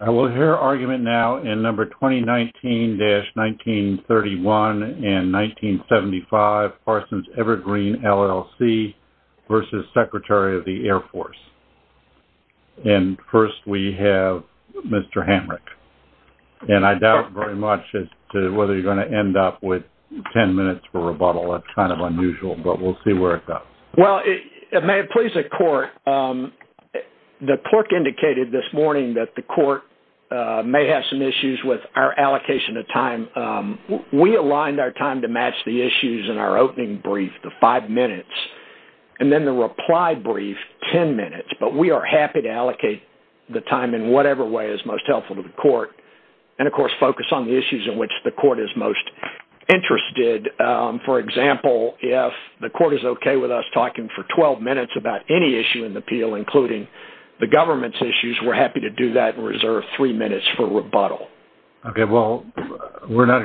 I will hear argument now in number 2019-1931 and 1975 Parsons Evergreen, LLC v. Secretary of the Air Force. And first we have Mr. Hamrick. And I doubt very much as to whether you're going to end up with 10 minutes for rebuttal. It's kind of unusual, but we'll see where it goes. Well, may it please the court, the clerk indicated this morning that the court may have some issues with our allocation of time. We aligned our time to match the issues in our opening brief, the five minutes, and then the reply brief, 10 minutes, but we are happy to allocate the time in whatever way is most helpful to the court. And of course, focus on the issues in which the court is most interested. For example, if the court is okay with us talking for 12 minutes about any issue in the appeal, including the government's issues, we're happy to do that and reserve three minutes for rebuttal. Okay, well, we're not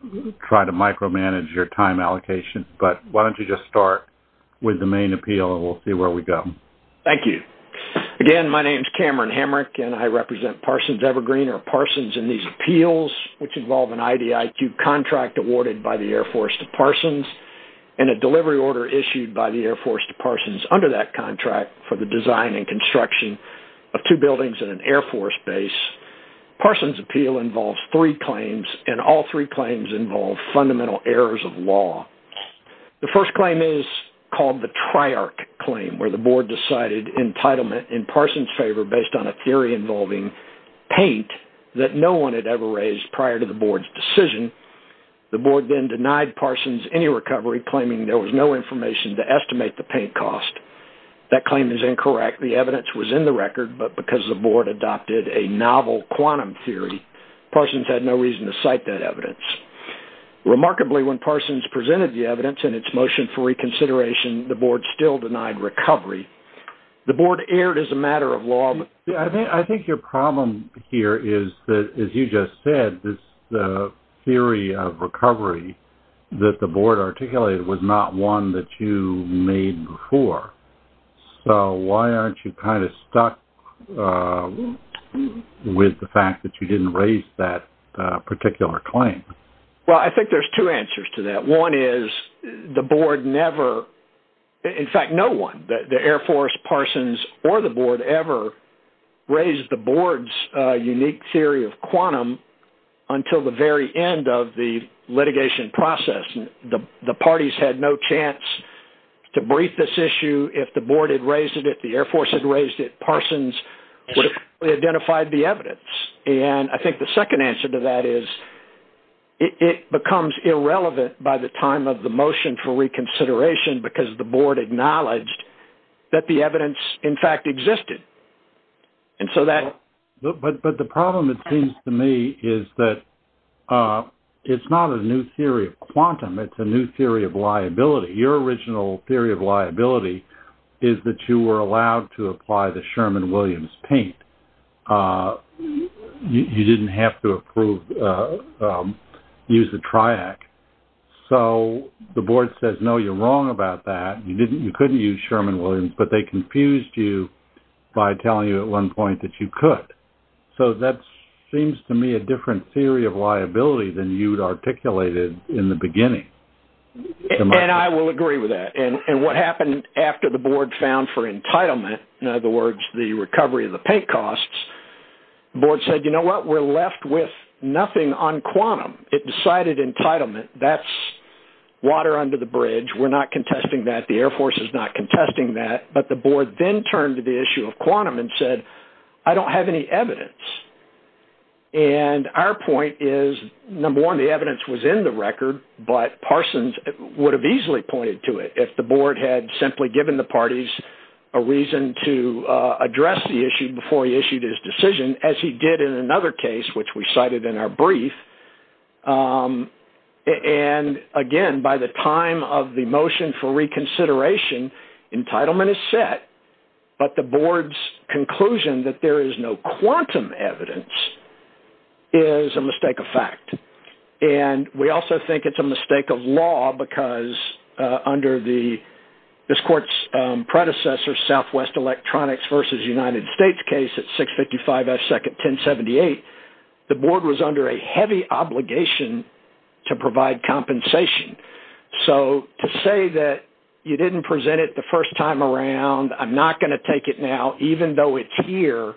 going to try to micromanage your time allocation, but why don't you just start with the main appeal and we'll see where we go. Thank you. Again, my name is Cameron Hamrick and I represent Parsons Evergreen or an IDIQ contract awarded by the Air Force to Parsons and a delivery order issued by the Air Force to Parsons under that contract for the design and construction of two buildings in an Air Force base. Parsons' appeal involves three claims and all three claims involve fundamental errors of law. The first claim is called the TRIARC claim where the board decided entitlement in Parsons' favor based on a theory involving paint that no one had ever raised prior to the board's decision. The board then denied Parsons any recovery claiming there was no information to estimate the paint cost. That claim is incorrect. The evidence was in the record, but because the board adopted a novel quantum theory, Parsons had no reason to cite that evidence. Remarkably, when Parsons presented the evidence and its motion for reconsideration, the board still denied recovery. The board erred as a matter of law. I think your problem here is that, as you just said, this theory of recovery that the board articulated was not one that you made before. So why aren't you kind of stuck with the fact that you didn't raise that particular claim? Well, I think there's two answers to that. One is the board never, in fact, no one, the Air Force, Parsons, or the board ever raised the board's unique theory of quantum until the very end of the litigation process. The parties had no chance to brief this issue. If the board had raised it, if the Air Force had raised it, Parsons would have identified the evidence. And I think the second answer to that is it becomes irrelevant by the time of the motion for reconsideration because the board acknowledged that the evidence, in fact, existed. But the problem, it seems to me, is that it's not a new theory of quantum. It's a new theory of liability. Your original theory of liability is that you were allowed to apply the Sherman-Williams paint. You didn't have to use the TRIAC. So the board says, no, you're wrong about that. You couldn't use Sherman-Williams, but they confused you by telling you at one point that you could. So that seems to me a different theory of liability than you'd articulated in the beginning. And I will agree with that. And what happened after the board found for entitlement, in other words, the recovery of the paint costs, the board said, you know what? We're left with nothing on quantum. It decided entitlement, that's water under the bridge. We're not contesting that. The Air Force is not contesting that. But the board then turned to the issue of quantum and said, I don't have any evidence. And our point is, number one, the evidence was in the record, but Parsons would have easily pointed to it if the board had simply given the parties a reason to address the issue before he issued his decision, as he did in another case, which we cited in our brief. And again, by the time of the motion for reconsideration, entitlement is set. But the board's conclusion that there is no quantum evidence is a mistake of fact. And we also think it's a mistake of law because under the, this court's predecessor, Southwest Electronics versus United States case at 655 S. Second 1078, the board was under a heavy obligation to provide compensation. So to say that you didn't present it the first time around, I'm not going to take it now, even though it's here,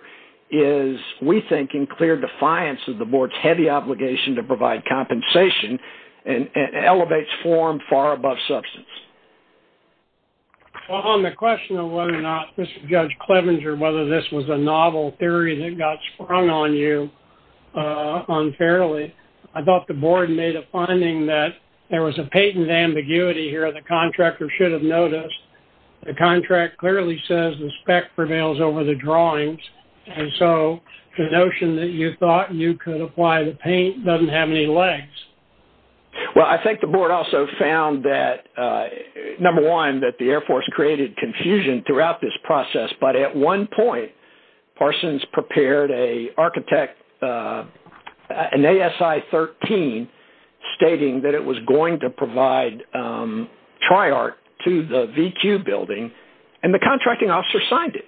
is we think in clear defiance of the board's heavy obligation to far above substance. Well, on the question of whether or not, Judge Clevenger, whether this was a novel theory that got sprung on you unfairly, I thought the board made a finding that there was a patent ambiguity here the contractor should have noticed. The contract clearly says the spec prevails over the drawings. And so the notion that you thought you could apply the paint doesn't have any legs. Well, I think the board also found that number one, that the Air Force created confusion throughout this process. But at one point, Parsons prepared a architect, an ASI 13, stating that it was going to provide triart to the VQ building, and the contracting officer signed it.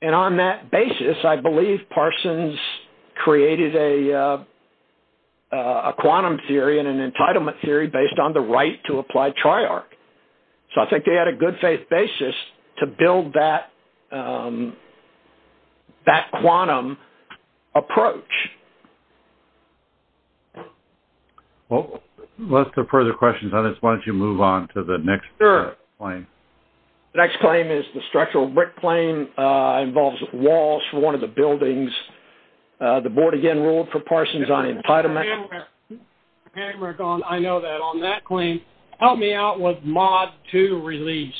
And on that basis, I believe Parsons created a quantum theory and an entitlement theory based on the right to apply triart. So I think they had a good faith basis to build that quantum approach. Well, unless there are further questions on this, why don't you move on to the next claim? The next claim is the structural brick claim involves Walsh, one of the buildings. The board again ruled for Parsons on entitlement. I know that. On that claim, help me out with mod two release.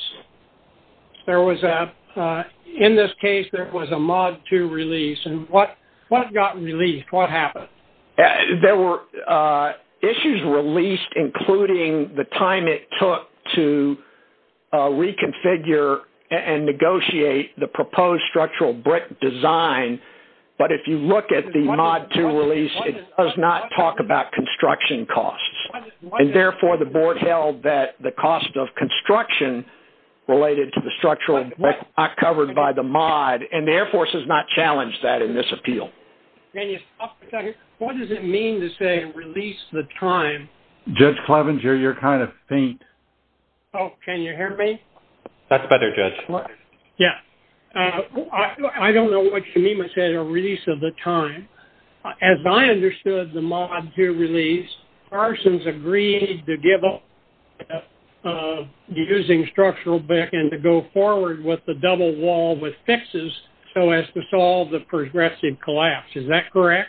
In this case, there was a mod two release. And what got released? What happened? There were issues released, including the time it took to reconfigure and negotiate the proposed structural brick design. But if you look at the mod two release, it does not talk about construction costs. And therefore, the board held that the cost of construction related to the structural covered by the mod and the Air Force has not challenged that in this appeal. What does it mean to say release the time? Judge Clevenger, you're kind of faint. Oh, can you hear me? That's better, Judge. Yeah. I don't know what you mean by saying a release of the time. As I understood the mod two release, Parsons agreed to give up using structural brick and to go forward with the double wall with fixes so as to solve the progressive collapse. Is that correct?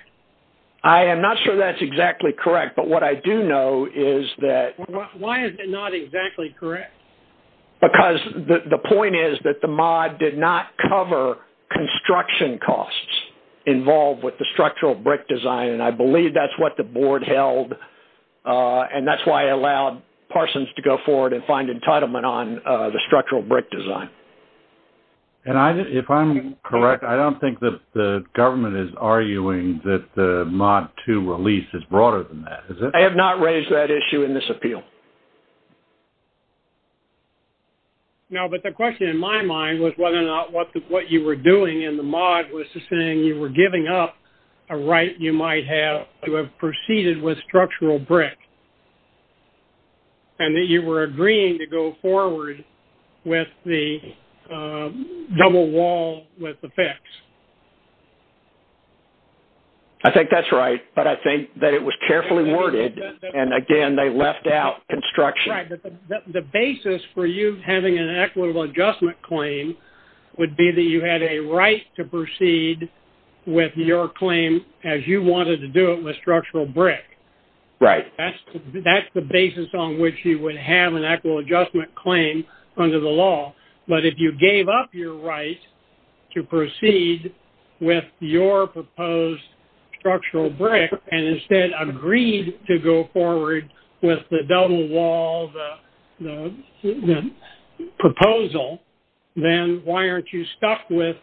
I am not sure that's exactly correct. But what I do know is that... Why is it not exactly correct? Because the point is that the mod did not cover construction costs involved with the structural brick design. And I believe that's what the board held. And that's why I allowed Parsons to go forward and find entitlement on the structural brick design. And if I'm correct, I don't think that the government is arguing that the mod two release is broader than that. Is it? I have not raised that issue in this appeal. No, but the question in my mind was whether or not what you were doing in the mod was just saying you were giving up a right you might have to have proceeded with structural brick. And that you were agreeing to go forward with the double wall with the fix. I think that's right. But I think that it was carefully worded. And again, they left out construction. Right. But the basis for you having an equitable adjustment claim would be that you had a right to proceed with your claim as you wanted to do it with structural brick. Right. That's the basis on which you would have an equitable adjustment claim under the law. But if you gave up your right to proceed with your proposed structural brick and instead agreed to go forward with the double wall, the proposal, then why aren't you stuck with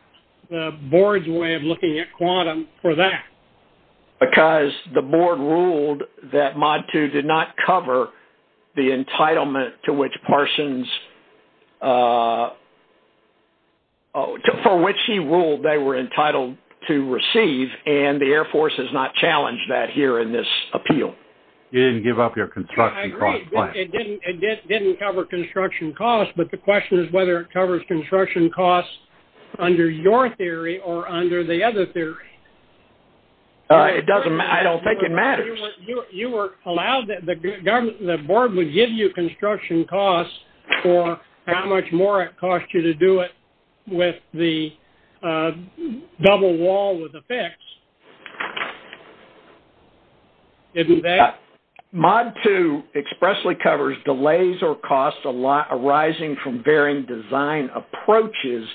the board's way of looking at quantum for that? Because the board ruled that mod two did not cover the entitlement to which Parsons, for which he ruled they were entitled to receive, and the Air Force has not challenged that here in this appeal. You didn't give up your construction cost claim. It didn't cover construction costs. But the question is whether it covers construction costs under your theory or under the other theory. I don't think it matters. You were allowed that the board would give you construction costs for how much more it cost you to do it with the double wall with the fix. Isn't that? Mod two expressly covers delays or costs arising from varying design approaches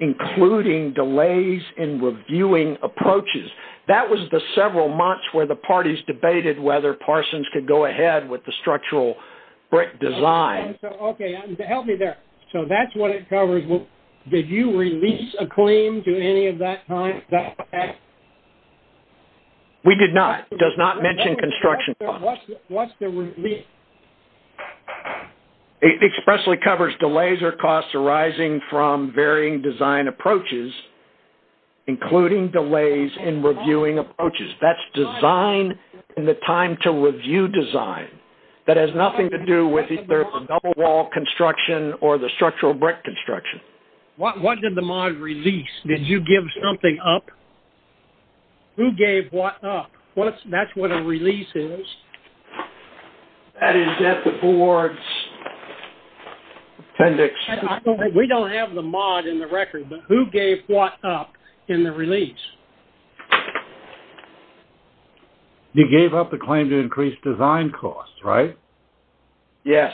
including delays in reviewing approaches. That was the several months where the parties debated whether Parsons could go ahead with the structural brick design. Okay. Help me there. So that's what it covers. Did you release a claim to any of that time? We did not. It does not mention construction costs. What's the release? It expressly covers delays or costs arising from varying design approaches including delays in reviewing approaches. That's design in the time to review design. That has nothing to do with either the double wall construction or the structural brick construction. What did the mod release? Did you give something up? Who gave what up? That's what a release is. That is at the board's appendix. We don't have the mod in the record, but who gave what up in the release? You gave up the claim to increase design costs, right? Yes.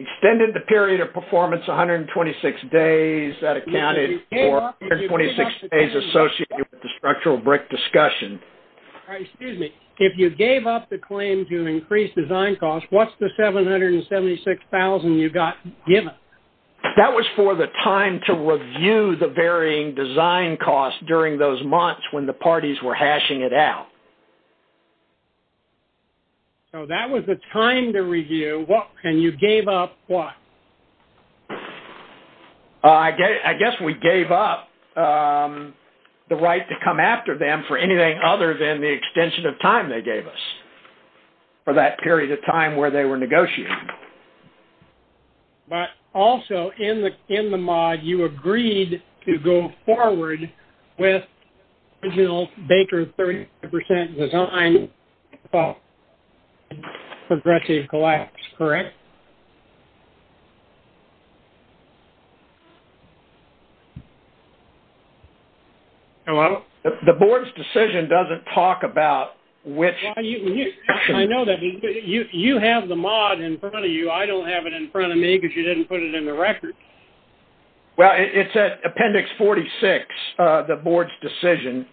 Extended the period of performance 126 days that accounted for 126 days associated with structural brick discussion. If you gave up the claim to increase design costs, what's the $776,000 you got given? That was for the time to review the varying design costs during those months when the parties were hashing it out. So that was the time to review, and you gave up what? I guess we gave up the right to come after them for anything other than the extension of time they gave us for that period of time where they were negotiating. But also, in the mod, you agreed to go forward with original Baker 30% design progressive collapse, correct? Yes. Hello? The board's decision doesn't talk about which- I know that. You have the mod in front of you. I don't have it in front of me because you didn't put it in the record. Well, it's at appendix 46, the board's decision.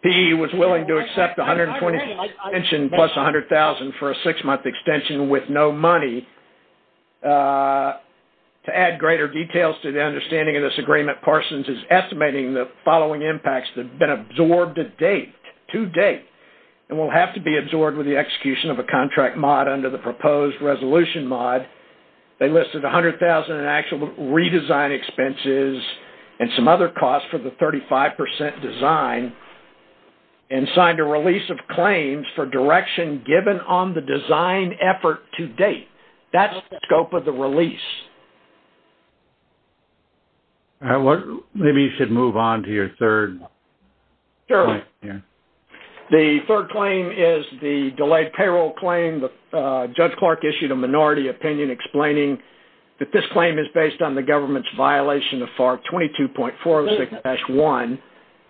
PE was willing to accept the 120 extension plus $100,000 for a six-month extension with no money. To add greater details to the understanding of this agreement, Parsons is estimating the following impacts that have been absorbed to date and will have to be absorbed with the execution of a contract mod under the proposed resolution mod. They listed $100,000 in actual redesign expenses and some other costs for the 35% design and signed a release of claims for direction given on the design effort to date. That's the scope of the release. Maybe you should move on to your third- Sure. The third claim is the delayed payroll claim. Judge Clark issued a minority opinion explaining that this claim is based on the government's of FAR 22.406-1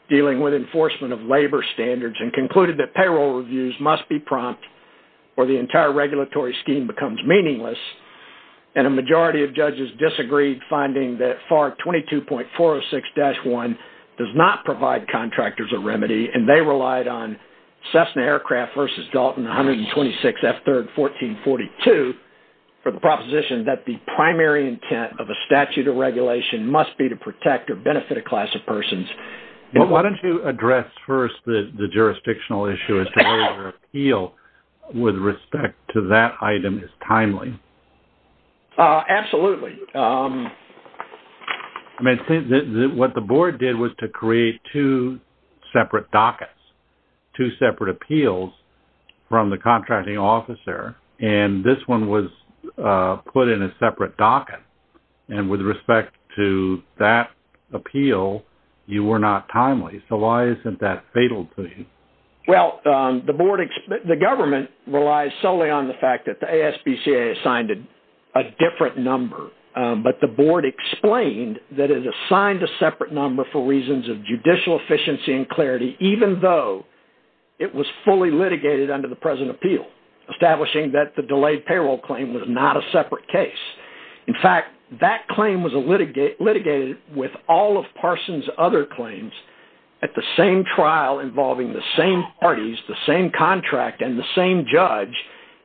dealing with enforcement of labor standards and concluded that payroll reviews must be prompt or the entire regulatory scheme becomes meaningless. A majority of judges disagreed finding that FAR 22.406-1 does not provide contractors a remedy and they relied on Cessna Aircraft versus Dalton 126F3R1442 for the proposition that the primary intent of a statute of regulation must be to protect or benefit a class of persons. Why don't you address first the jurisdictional issue as to whether your appeal with respect to that item is timely? Absolutely. What the board did was to create two separate dockets, two separate appeals from the contracting officer, and this one was put in a separate docket. And with respect to that appeal, you were not timely. So why isn't that fatal to you? Well, the government relies solely on the fact that the ASPCA assigned a different number, but the board explained that it assigned a separate number for reasons of judicial efficiency and clarity, even though it was fully litigated under the present appeal, establishing that the delayed payroll claim was not a separate case. In fact, that claim was litigated with all of Parson's other claims at the same trial involving the same parties, the same contract, and the same judge,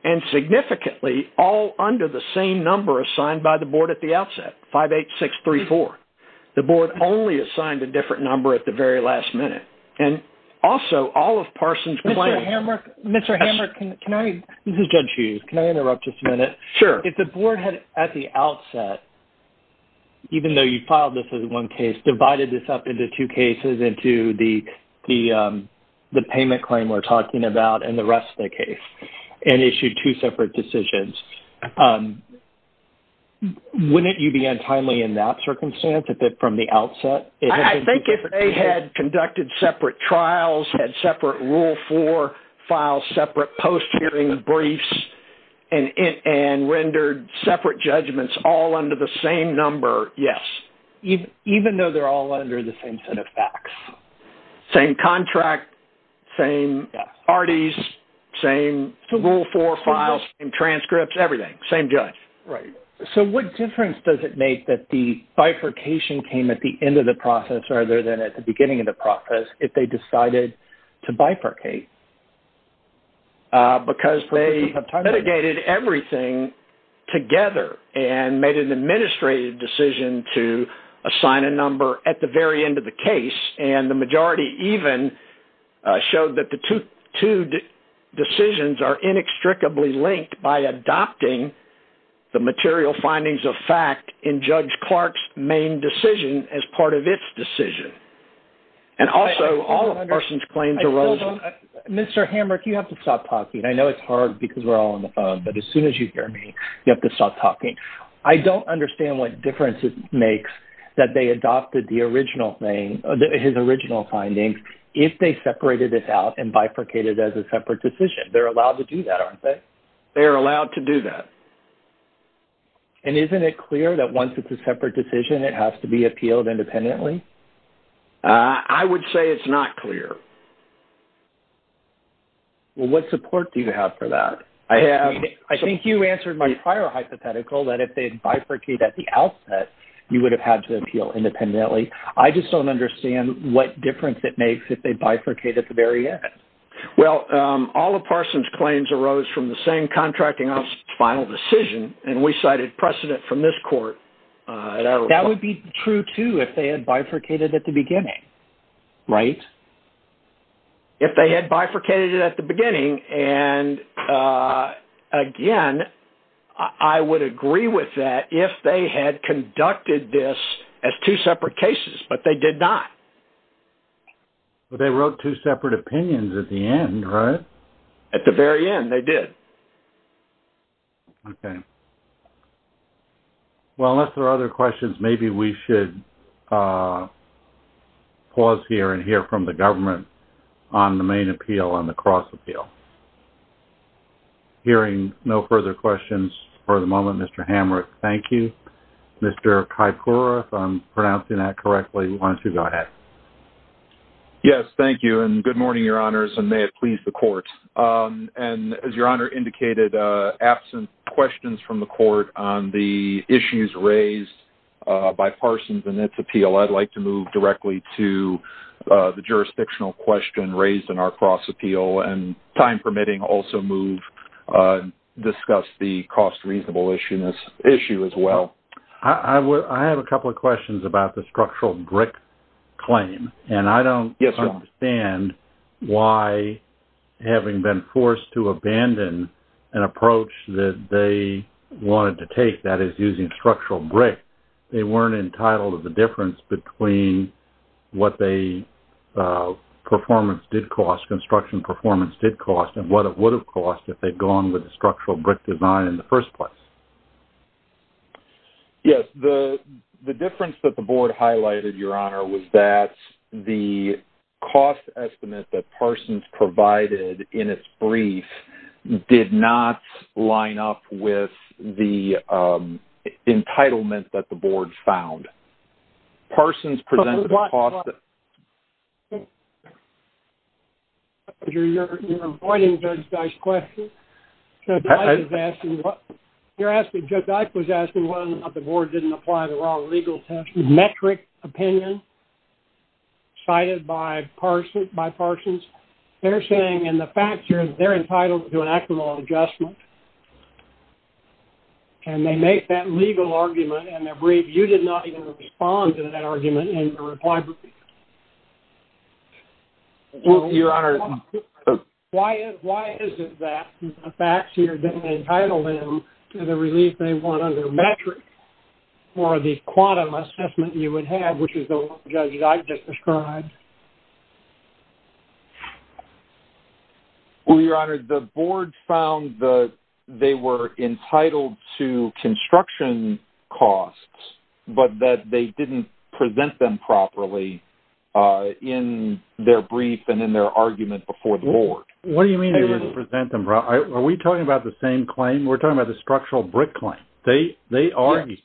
and significantly all under the same number assigned by the board at the outset, 58634. The board only assigned a different number at the very last minute. And also, all of Parson's claims... Mr. Hammer, can I... This is Judge Hughes. Can I interrupt just a minute? Sure. If the board had at the outset, even though you filed this as one case, divided this up into two cases, into the payment claim we're talking about and the rest of the case, and from the outset... I think if they had conducted separate trials, had separate Rule 4 files, separate post-hearing briefs, and rendered separate judgments all under the same number, yes. Even though they're all under the same set of facts. Same contract, same parties, same Rule 4 files, same transcripts, everything, same judge. Right. So, what difference does it make that the bifurcation came at the end of the process rather than at the beginning of the process if they decided to bifurcate? Because they mitigated everything together and made an administrative decision to assign a number at the very end of the case. And the majority even showed that the two decisions are inextricably linked by adopting the material findings of fact in Judge Clark's main decision as part of its decision. And also, all the person's claims arose... Mr. Hamrick, you have to stop talking. I know it's hard because we're all on the phone, but as soon as you hear me, you have to stop talking. I don't understand what difference it makes that they adopted the original thing, his original findings, if they separated it out and bifurcated as a separate decision. They're allowed to do that, aren't they? They're allowed to do that. And isn't it clear that once it's a separate decision, it has to be appealed independently? I would say it's not clear. Well, what support do you have for that? I have... I think you answered my prior hypothetical that if they'd bifurcated at the outset, you would have had to appeal independently. I just don't understand what difference it makes if they bifurcated at the very end. Well, all the person's claims arose from the same contracting officer's final decision, and we cited precedent from this court. That would be true, too, if they had bifurcated at the beginning, right? If they had bifurcated at the beginning, and again, I would agree with that if they had conducted this as two separate cases, but they did not. But they wrote two separate opinions at the end, right? At the very end, they did. Okay. Well, unless there are other questions, maybe we should pause here and hear from the government on the main appeal, on the cross appeal. Hearing no further questions for the moment, Mr. Hamrick, thank you. Mr. Kaipura, if I'm pronouncing that correctly, why don't you go ahead? Yes, thank you, and good morning, Your Honors, and may it please the court. And as Your Honor indicated, absent questions from the court on the issues raised by Parsons in its appeal, I'd like to move directly to the jurisdictional question raised in our cross appeal, and time permitting, also move, discuss the cost-reasonable issue as well. I have a couple of questions about the structural brick claim, and I don't understand why, having been forced to abandon an approach that they wanted to take, that is using structural brick, they weren't entitled to the difference between what the performance did cost, construction performance did cost, and what it would have cost if they'd gone with the structural brick design in the first place. Yes, the difference that the board highlighted, Your Honor, was that the cost estimate that Parsons provided in its brief did not line up with the entitlement that the board found. Parsons presented a cost... Hold on, hold on. You're avoiding Judge Dike's question. Judge Dike was asking whether or not the board didn't apply the wrong legal test. Metric opinion cited by Parsons, they're saying in the fact that they're entitled to an act of law adjustment, and they make that legal argument in their brief, you did not even respond to that argument in the reply brief. Your Honor... Why is it that the facts here didn't entitle them to the relief they want under metric or the quantum assessment you would have, which is the one Judge Dike just described? Well, Your Honor, the board found that they were entitled to construction costs, but that they didn't present them properly in their brief and in their argument before the board. What do you mean they didn't present them properly? Are we talking about the same claim? We're talking about the structural brick claim. They argued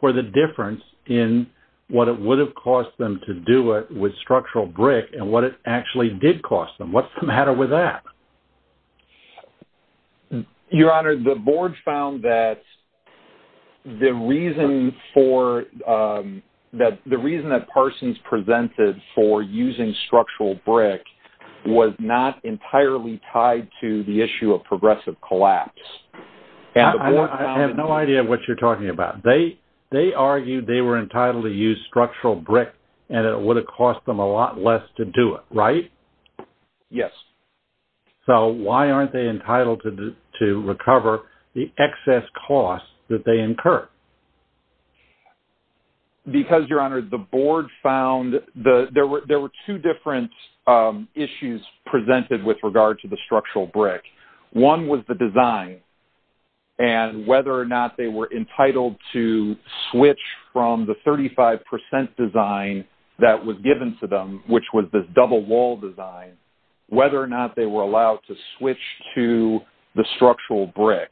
for the difference in what it would have cost them to do it with structural brick and what it actually did cost them. What's the matter with that? Your Honor, the board found that the reason that Parsons presented for using structural brick was not entirely tied to the issue of progressive collapse. I have no idea what you're talking about. They argued they were entitled to use structural brick and it would have cost them a lot less to do it, right? Yes. So why aren't they entitled to recover the excess costs that they incur? Because, Your Honor, the board found there were two different issues presented with regard to the structural brick. One was the design and whether or not they were entitled to switch from the 35 percent design that was given to them, which was this double wall design, whether or not they were allowed to switch to the structural brick.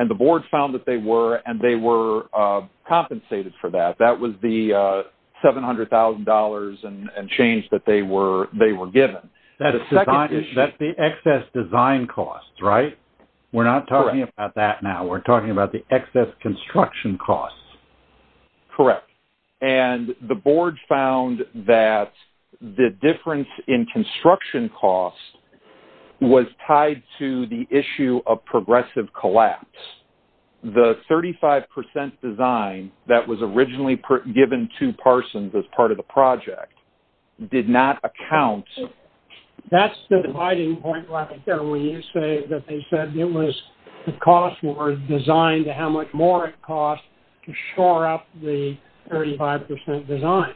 And the board found that they were and they were compensated for that. That was the $700,000 and change that they were given. That's the excess design costs, right? We're not talking about that now. We're talking about the excess construction costs. Correct. And the board found that the difference in construction costs was tied to the issue of progressive collapse. The 35 percent design that was originally given to Parsons as part of the project did not account... That's the dividing point right there when you say that they said it was the cost were designed to how much more it cost to shore up the 35 percent design.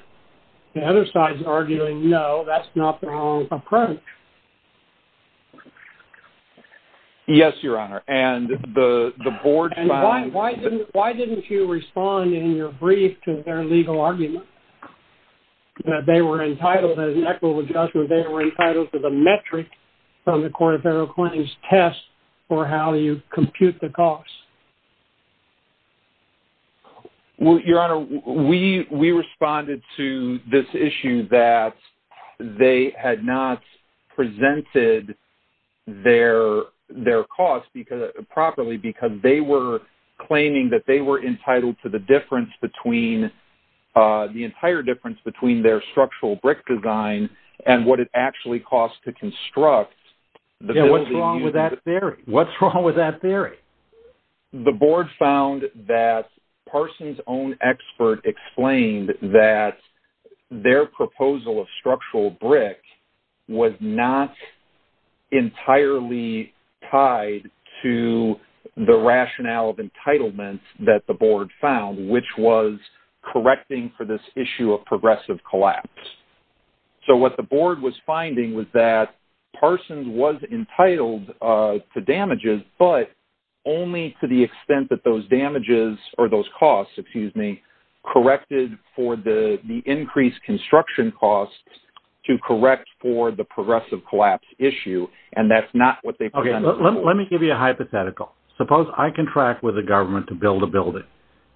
The other side's arguing, no, that's not the wrong approach. Yes, Your Honor. And the board... Why didn't you respond in your brief to their legal argument that they were entitled, as an equitable judgment, they were entitled to the metric from the Court of Federal Claims test for how you compute the costs? Your Honor, we responded to this issue that they had not presented their costs properly because they were claiming that they were entitled to the difference between, the entire difference their structural brick design and what it actually cost to construct. What's wrong with that theory? What's wrong with that theory? The board found that Parsons' own expert explained that their proposal of structural brick was not entirely tied to the rationale of entitlements that the board found, which was correcting for this issue of progressive collapse. So what the board was finding was that Parsons was entitled to damages, but only to the extent that those damages or those costs, excuse me, corrected for the increased construction costs to correct for the progressive collapse issue. And that's not what they... Okay, let me give you a hypothetical. Suppose I contract with the government to build a building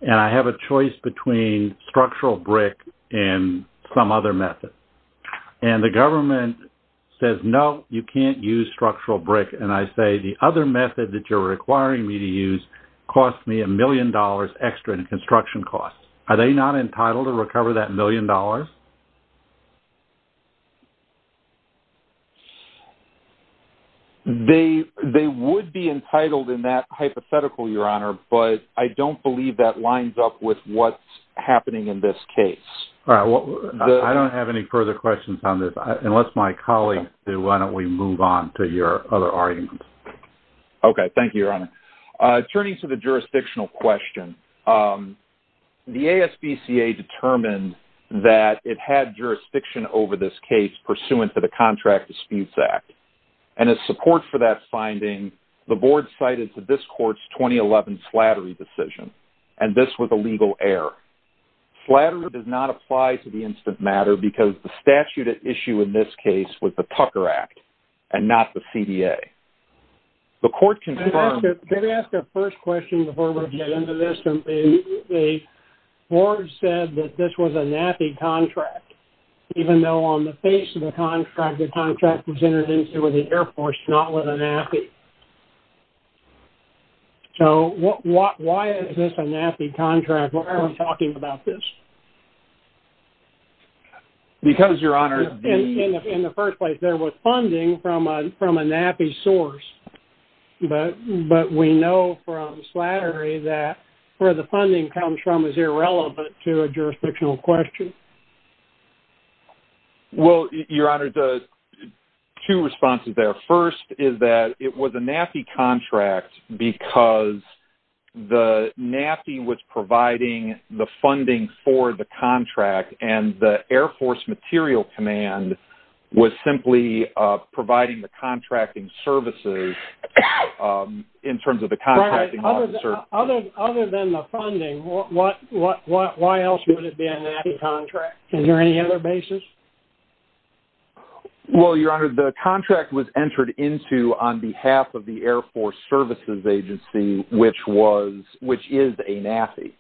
and I have a choice between structural brick and some other method. And the government says, no, you can't use structural brick. And I say, the other method that you're requiring me to use cost me a million dollars extra in construction costs. Are they not entitled to recover that million dollars? They would be entitled in that hypothetical, Your Honor, but I don't believe that lines up with what's happening in this case. All right. I don't have any further questions on this, unless my colleagues do, why don't we move on to your other arguments? Okay. Thank you, Your Honor. Turning to the jurisdictional question, the ASBCA determined that it had jurisdiction over this case pursuant to the Contract Disputes Act. And as support for that finding, the board cited to this court's 2011 Slattery decision, and this was a legal error. Slattery does not apply to the instant matter because the statute at issue in this case was the Tucker Act and not the CDA. The court confirmed... The board said that this was a NAPI contract, even though on the face of the contract, the contract was entered into with the Air Force, not with a NAPI. So why is this a NAPI contract? Why are we talking about this? Because, Your Honor... In the first place, there was funding from a NAPI source, but we know from Slattery that where the funding comes from is irrelevant to a jurisdictional question. Well, Your Honor, two responses there. First is that it was a NAPI contract because the NAPI was providing the funding for the contract, and the Air Force Material Command was simply providing the contracting services in terms of the contracting officer. Right. Other than the funding, why else would it be a NAPI contract? Is there any other basis? Well, Your Honor, the contract was entered into on behalf of the Air Force Services Agency, which is a NAPI.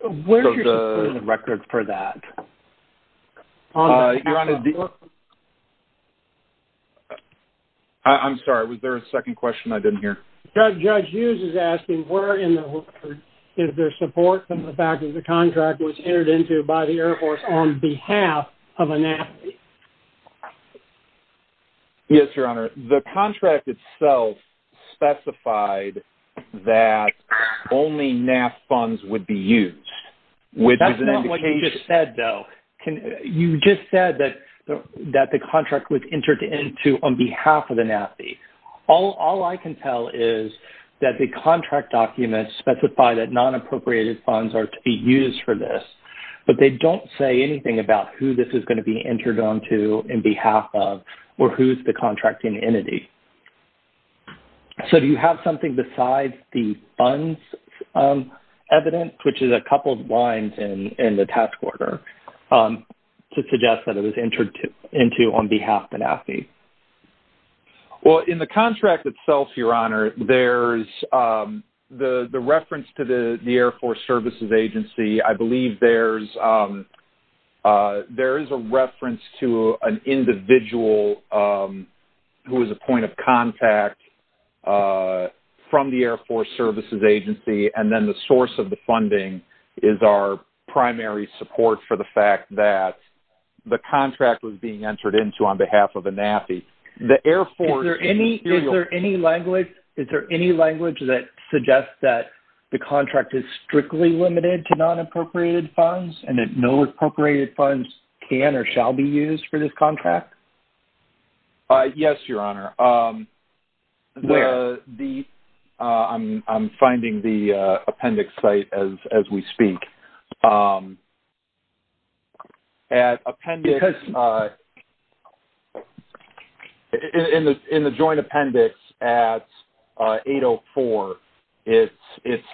So the record for that... I'm sorry. Was there a second question I didn't hear? Judge Hughes is asking, is there support from the fact that the contract was entered into by NAPI? Yes, Your Honor. The contract itself specified that only NAP funds would be used, which is an indication... That's not what you just said, though. You just said that the contract was entered into on behalf of the NAPI. All I can tell is that the contract documents specify that non-appropriated funds are to be used for this, but they don't say anything about who this is going to be entered onto in behalf of or who is the contracting entity. So do you have something besides the funds evidence, which is a couple of lines in the task order to suggest that it was entered into on behalf of NAPI? Well, in the contract itself, Your Honor, there's the reference to the Air Force Services Agency. I believe there is a reference to an individual who is a point of contact from the Air Force Services Agency, and then the source of the funding is our primary support for the fact that the contract was being entered into on behalf of NAPI. Is there any language that suggests that the contract is strictly limited to non-appropriated funds and that no appropriated funds can or shall be used for this contract? Yes, Your Honor. Where? I'm finding the appendix site as we speak. Because... In the joint appendix at 804, it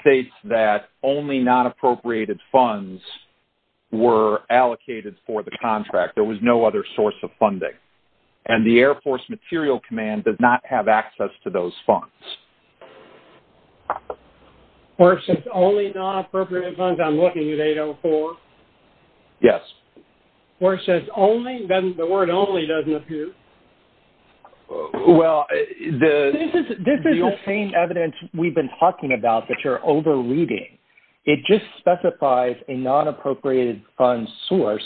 states that only non-appropriated funds were allocated for the contract. There was no other source of funding, and the Air Force Material Command does not have access to those funds. Where it says only non-appropriated funds, I'm looking at 804. Yes. Where it says only, then the word only doesn't appear. Well, the... This is the same evidence we've been talking about that you're over-reading. It just specifies a non-appropriated fund source,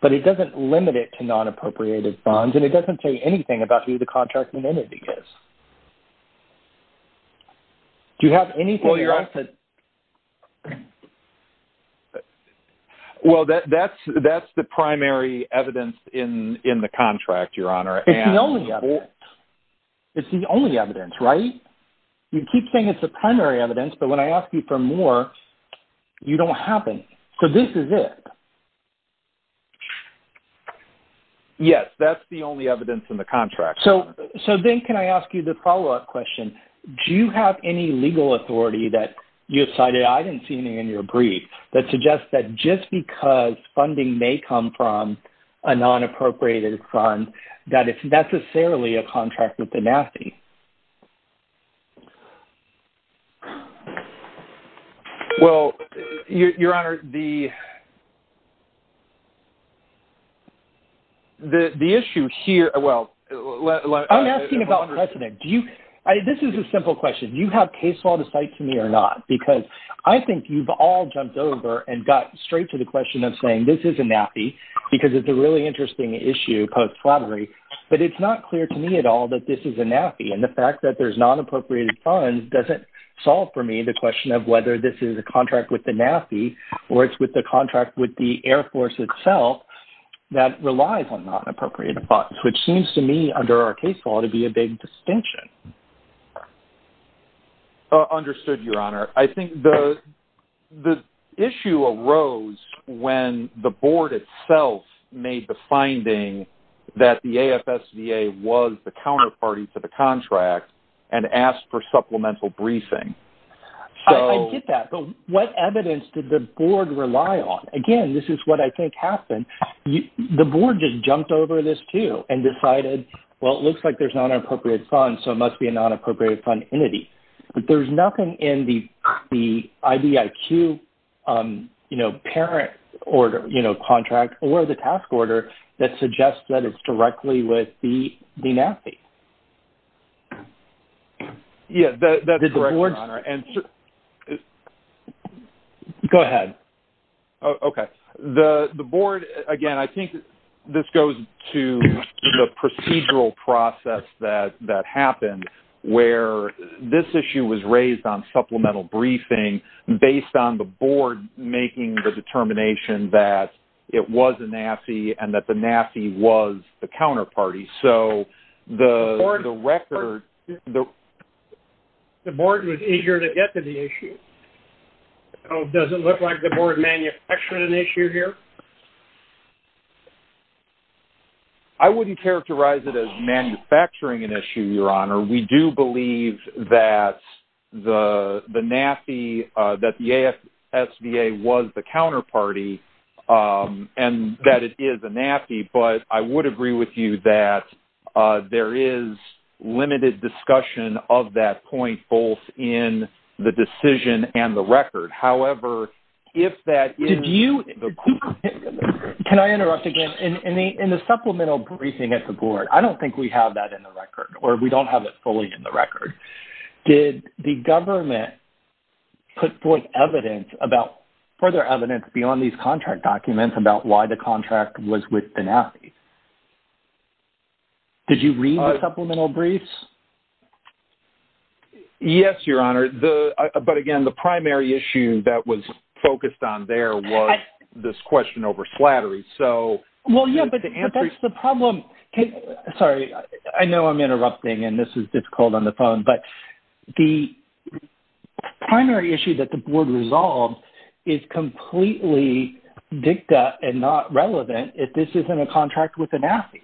but it doesn't limit it to non-appropriated funds, and it doesn't say anything about who the contract entity is. Do you have anything else that... Well, that's the primary evidence in the contract, Your Honor. It's the only evidence. It's the only evidence, right? You keep saying it's the primary evidence, but when I ask you for more, you don't have any. So this is it. Yes. That's the only evidence in the contract. So then can I ask you the follow-up question? Do you have any legal authority that you cited? I didn't see any in your brief that suggests that just because funding may come from a non-appropriated fund, that it's necessarily a contract with the NAFI. Well, Your Honor, the issue here... Well... I'm asking about precedent. This is a simple question. Do you have case law to cite to me or not? Because I think you've all jumped over and got straight to the question of saying, this is a NAFI, because it's a really interesting issue post-flattery, but it's not clear to me at all that this is a NAFI. And the fact that there's non-appropriated funds doesn't solve for me the question of whether this is a contract with the NAFI or it's with the contract with the Air Force itself that relies on non-appropriated funds, which seems to me under our case law to be a big distinction. Understood, Your Honor. I think the issue arose when the board itself made the finding that the AFSDA was the counterparty to the contract and asked for supplemental briefing. I get that. But what evidence did the board rely on? Again, this is what I think happened. The board just jumped over this too and decided, well, it looks like there's non-appropriated funds, so it must be a non-appropriated fund entity. But there's nothing in the IBIQ parent contract or the task order that suggests that it's directly with the NAFI. Yes, that's correct, Your Honor. Go ahead. Okay. The board, again, I think this goes to the procedural process that happened where this issue was raised on supplemental briefing based on the board making the determination that it was a NAFI and that the NAFI was the counterparty. So the record... The board was eager to get to the issue. Does it look like the board manufactured an issue here? I wouldn't characterize it as manufacturing an issue, Your Honor. We do believe that the NAFI, that the AFSDA was the counterparty and that it is a NAFI. But I would agree with you that there is limited discussion of that point both in the decision and the record. However, if that is... Did you... Can I interrupt again? In the supplemental briefing at the board, I don't think we have that in the record or we don't have it fully in the record. Did the government put forth evidence about further evidence beyond these contract documents about why the contract was with the NAFI? Did you read the supplemental briefs? Yes, Your Honor. But again, the primary issue that was focused on there was this question over slattery. So... Well, yes, but that's the problem. Sorry, I know I'm interrupting and this is difficult on the phone. But the primary issue that the board resolved is completely dicta and not relevant if this isn't a contract with the NAFI.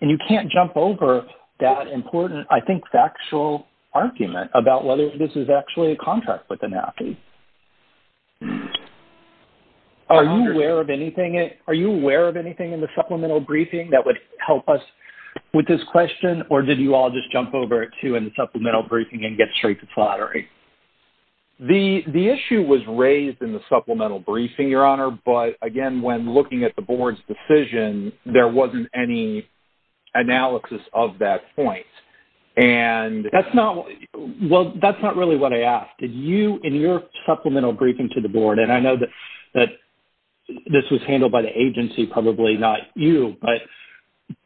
And you can't jump over that important, I think, factual argument about whether this is actually a contract with the NAFI. Are you aware of anything in the supplemental briefing that would help us with this question? Or did you all just jump over it too in the supplemental briefing and get straight to slattery? The issue was raised in the supplemental briefing, Your Honor. But again, when looking at the board's decision, there wasn't any analysis of that point. And... That's not... Well, that's not really what I asked. Did you in your supplemental briefing to the board, and I know that this was handled by the agency, probably not you, but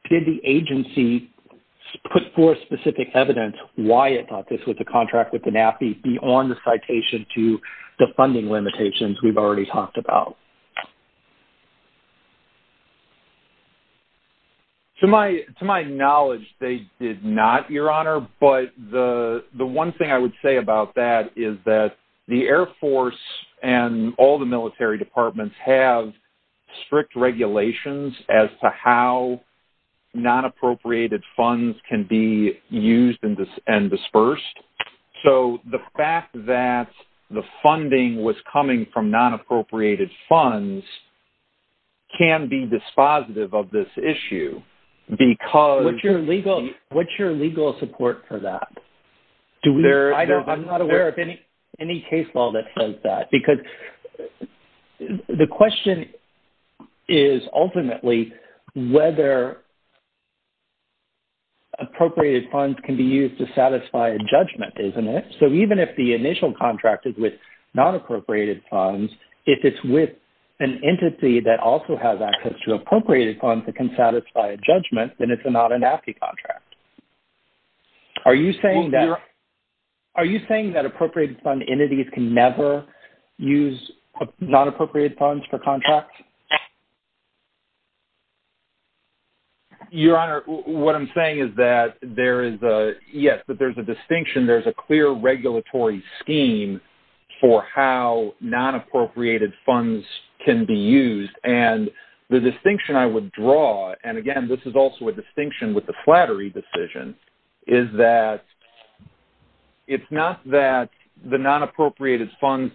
did the agency put forth specific evidence why it thought this was a contract with the NAFI beyond the citation to the funding limitations we've already talked about? To my knowledge, they did not, Your Honor. But the one thing I would say about that is that the Air Force and all the military departments have strict regulations as to how non-appropriated funds can be used and dispersed. So the fact that the funding was coming from non-appropriated funds can be dispositive of this issue because... What's your legal support for that? I'm not aware of any case law that says that. Because the question is ultimately whether appropriated funds can be used to satisfy a judgment, isn't it? So even if the initial contract is with non-appropriated funds, if it's with an entity that also has access to appropriated funds that can satisfy a judgment, then it's not a NAFI contract. Are you saying that appropriated fund entities can never use non-appropriated funds for contracts? Your Honor, what I'm saying is that there is a... Yes, but there's a distinction. There's a clear regulatory scheme for how non-appropriated funds can be used. And the distinction I would draw, and again, this is also a distinction with the Flattery decision, is that it's not that the non-appropriated funds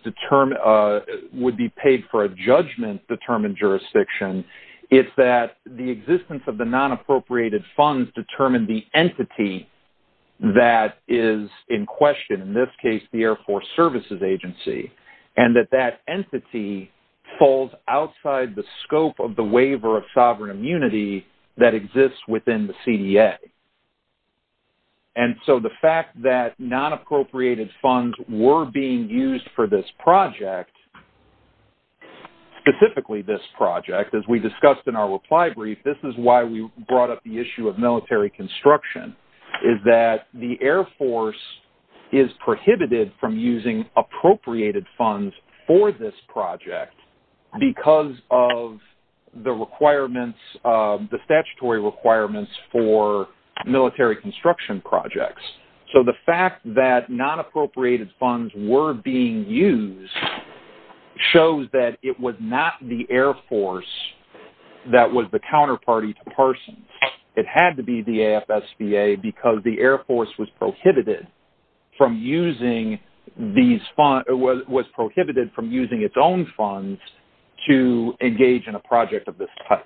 would be paid for a judgment-determined jurisdiction. It's that the existence of the non-appropriated funds determine the entity that is in question, in this case, the Air Force Services Agency, and that that entity falls outside the scope of the waiver of sovereign immunity that exists within the CDA. And so the fact that non-appropriated funds were being used for this project, specifically this project, as we discussed in our reply brief, this is why we brought up the issue of military construction, is that the Air Force is prohibited from using appropriated funds for this project because of the requirements, the statutory requirements for military construction projects. So the fact that non-appropriated funds were being used shows that it was not the Air Force that was the counterparty to Parsons. It had to be the AFSBA because the Air Force was prohibited from using these funds...was prohibited from using its own funds to engage in a project of this type.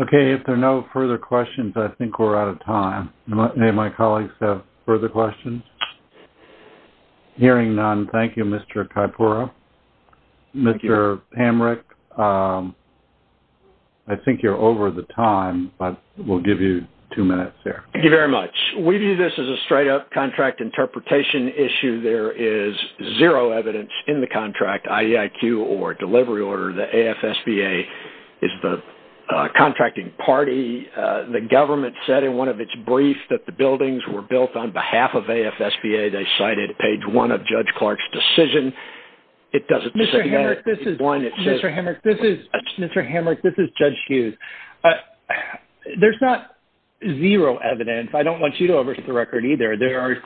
Okay. If there are no further questions, I think we're out of time. Do any of my colleagues have further questions? Hearing none, thank you, Mr. Kaipura. Mr. Hamrick, I think you're over the time, but we'll give you two minutes here. Thank you very much. We view this as a straight-up contract interpretation issue. There is zero evidence in the contract, IEIQ or delivery order, that AFSBA is the contracting party. The government said in one of its briefs that the buildings were built on behalf of AFSBA. They cited page one of Judge Clark's decision. It doesn't... Mr. Hamrick, this is Judge Hughes. There's not zero evidence. I don't want you to overstate the record either. There are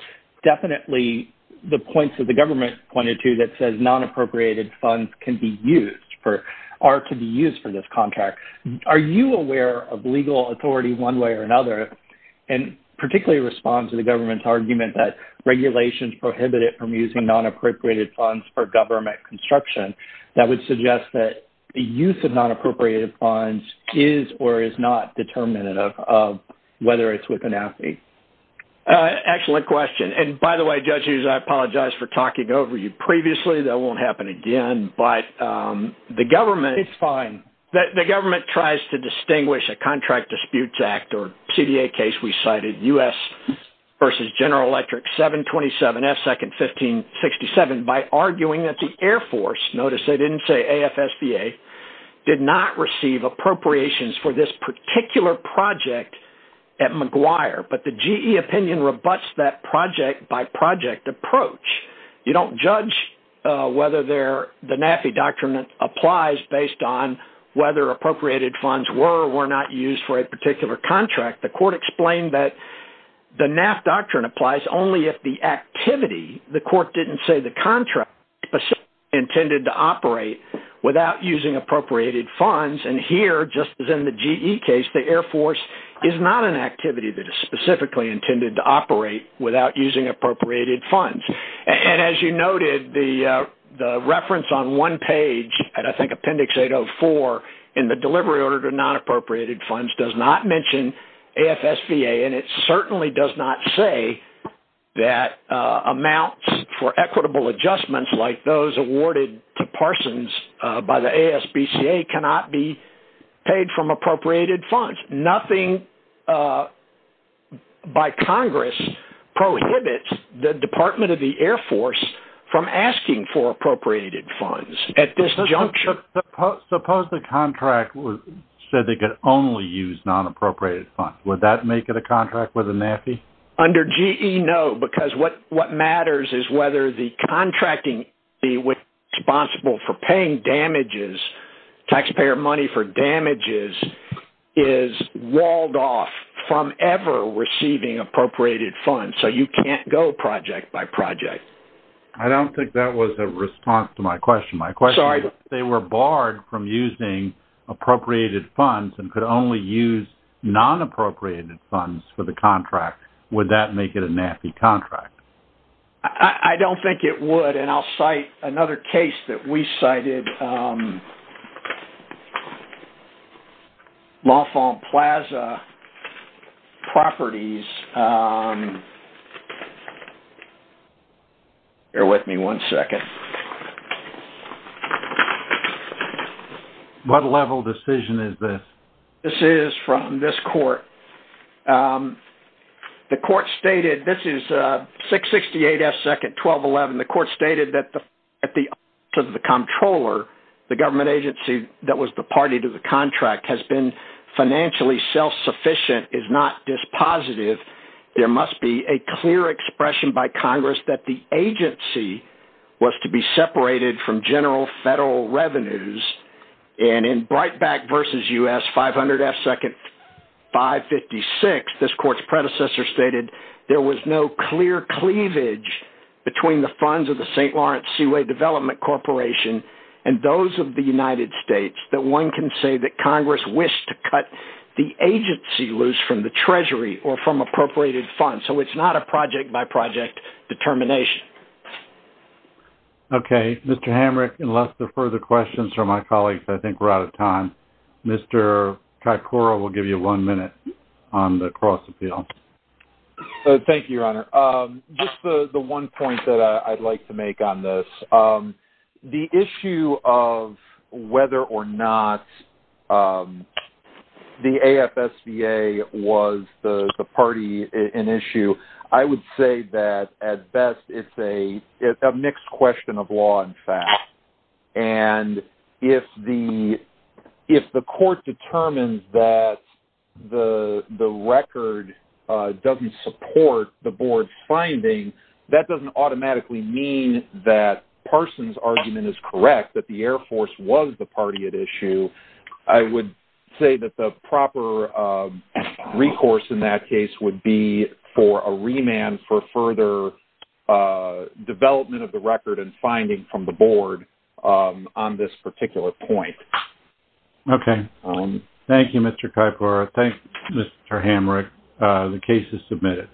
definitely the points that the government pointed to that says non-appropriated funds can be used for...are to be used for this contract. Are you aware of legal authority one way or another, and particularly respond to the government's argument that regulations prohibited from using non-appropriated funds for government construction that would suggest that the use of non-appropriated funds is or is not determinative of whether it's with an AFI? Excellent question. And by the way, Judge Hughes, I apologize for talking over you previously. That won't happen again. But the government... It's fine. The government tries to distinguish a contract disputes act or CDA case we cited, U.S. versus General Electric, 727F, second 1567, by arguing that the Air Force, notice they didn't say AFSVA, did not receive appropriations for this particular project at McGuire. But the GE opinion rebuts that project-by-project approach. You don't judge whether the NAFI doctrine applies based on whether appropriated funds were or were not used for a particular contract. The court explained that the NAF doctrine applies only if the activity, the court didn't say the contract, intended to operate without using appropriated funds. And here, just as in the GE case, the Air Force is not an activity that is specifically intended to operate without using appropriated funds. And as you noted, the reference on one page, and I think Appendix 804 in the delivery order to non-appropriated funds does not mention AFSVA. And it certainly does not say that amounts for equitable adjustments like those awarded to Parsons by the ASBCA cannot be paid from appropriated funds. Nothing by Congress prohibits the Department of the Air Force from asking for appropriated funds at this juncture. Suppose the contract said they could only use non-appropriated funds. Would that make it a contract with the NAFI? Under GE, no, because what matters is whether the contracting agency responsible for paying damages, taxpayer money for damages, is walled off from ever receiving appropriated funds. So, you can't go project by project. I don't think that was a response to my question. My question is if they were barred from using appropriated funds and could only use non-appropriated funds for the contract, would that make it a NAFI contract? I don't think it would. And I'll cite another case that we cited, LaFont Plaza Properties. Bear with me one second. What level decision is this? This is from this court. The court stated, this is 668 S. 2nd, 1211. The court stated that the controller, the government agency that was the party to the contract, has been financially self-sufficient, is not dispositive. There must be a clear expression by Congress that the agency was to be separated from general federal revenues. And in Breitbach v. U.S., 500 F. 2nd, 556, this court's predecessor stated there was no clear cleavage between the funds of the St. Lawrence Seaway Development Corporation and those of the United States that one can say that Congress wished to cut the agency loose from the treasury or from appropriated funds. So, it's not a project-by-project determination. Okay. Mr. Hamrick, unless there are further questions from my colleagues, I think we're out of time. Mr. Ticora will give you one minute on the cross-appeal. Thank you, Your Honor. Just the one point that I'd like to make on this. The issue of whether or not the AFSBA was the party in issue, I would say that, at best, it's a mixed question of law and fact. And if the court determines that the record doesn't support the board's finding, that doesn't automatically mean that Parsons' argument is correct, that the Air Force was the party at issue. I would say that the proper recourse in that case would be for a remand for further development of the record and finding from the board on this particular point. Okay. Thank you, Mr. Ticora. Thank you, Mr. Hamrick. The case is adjourned.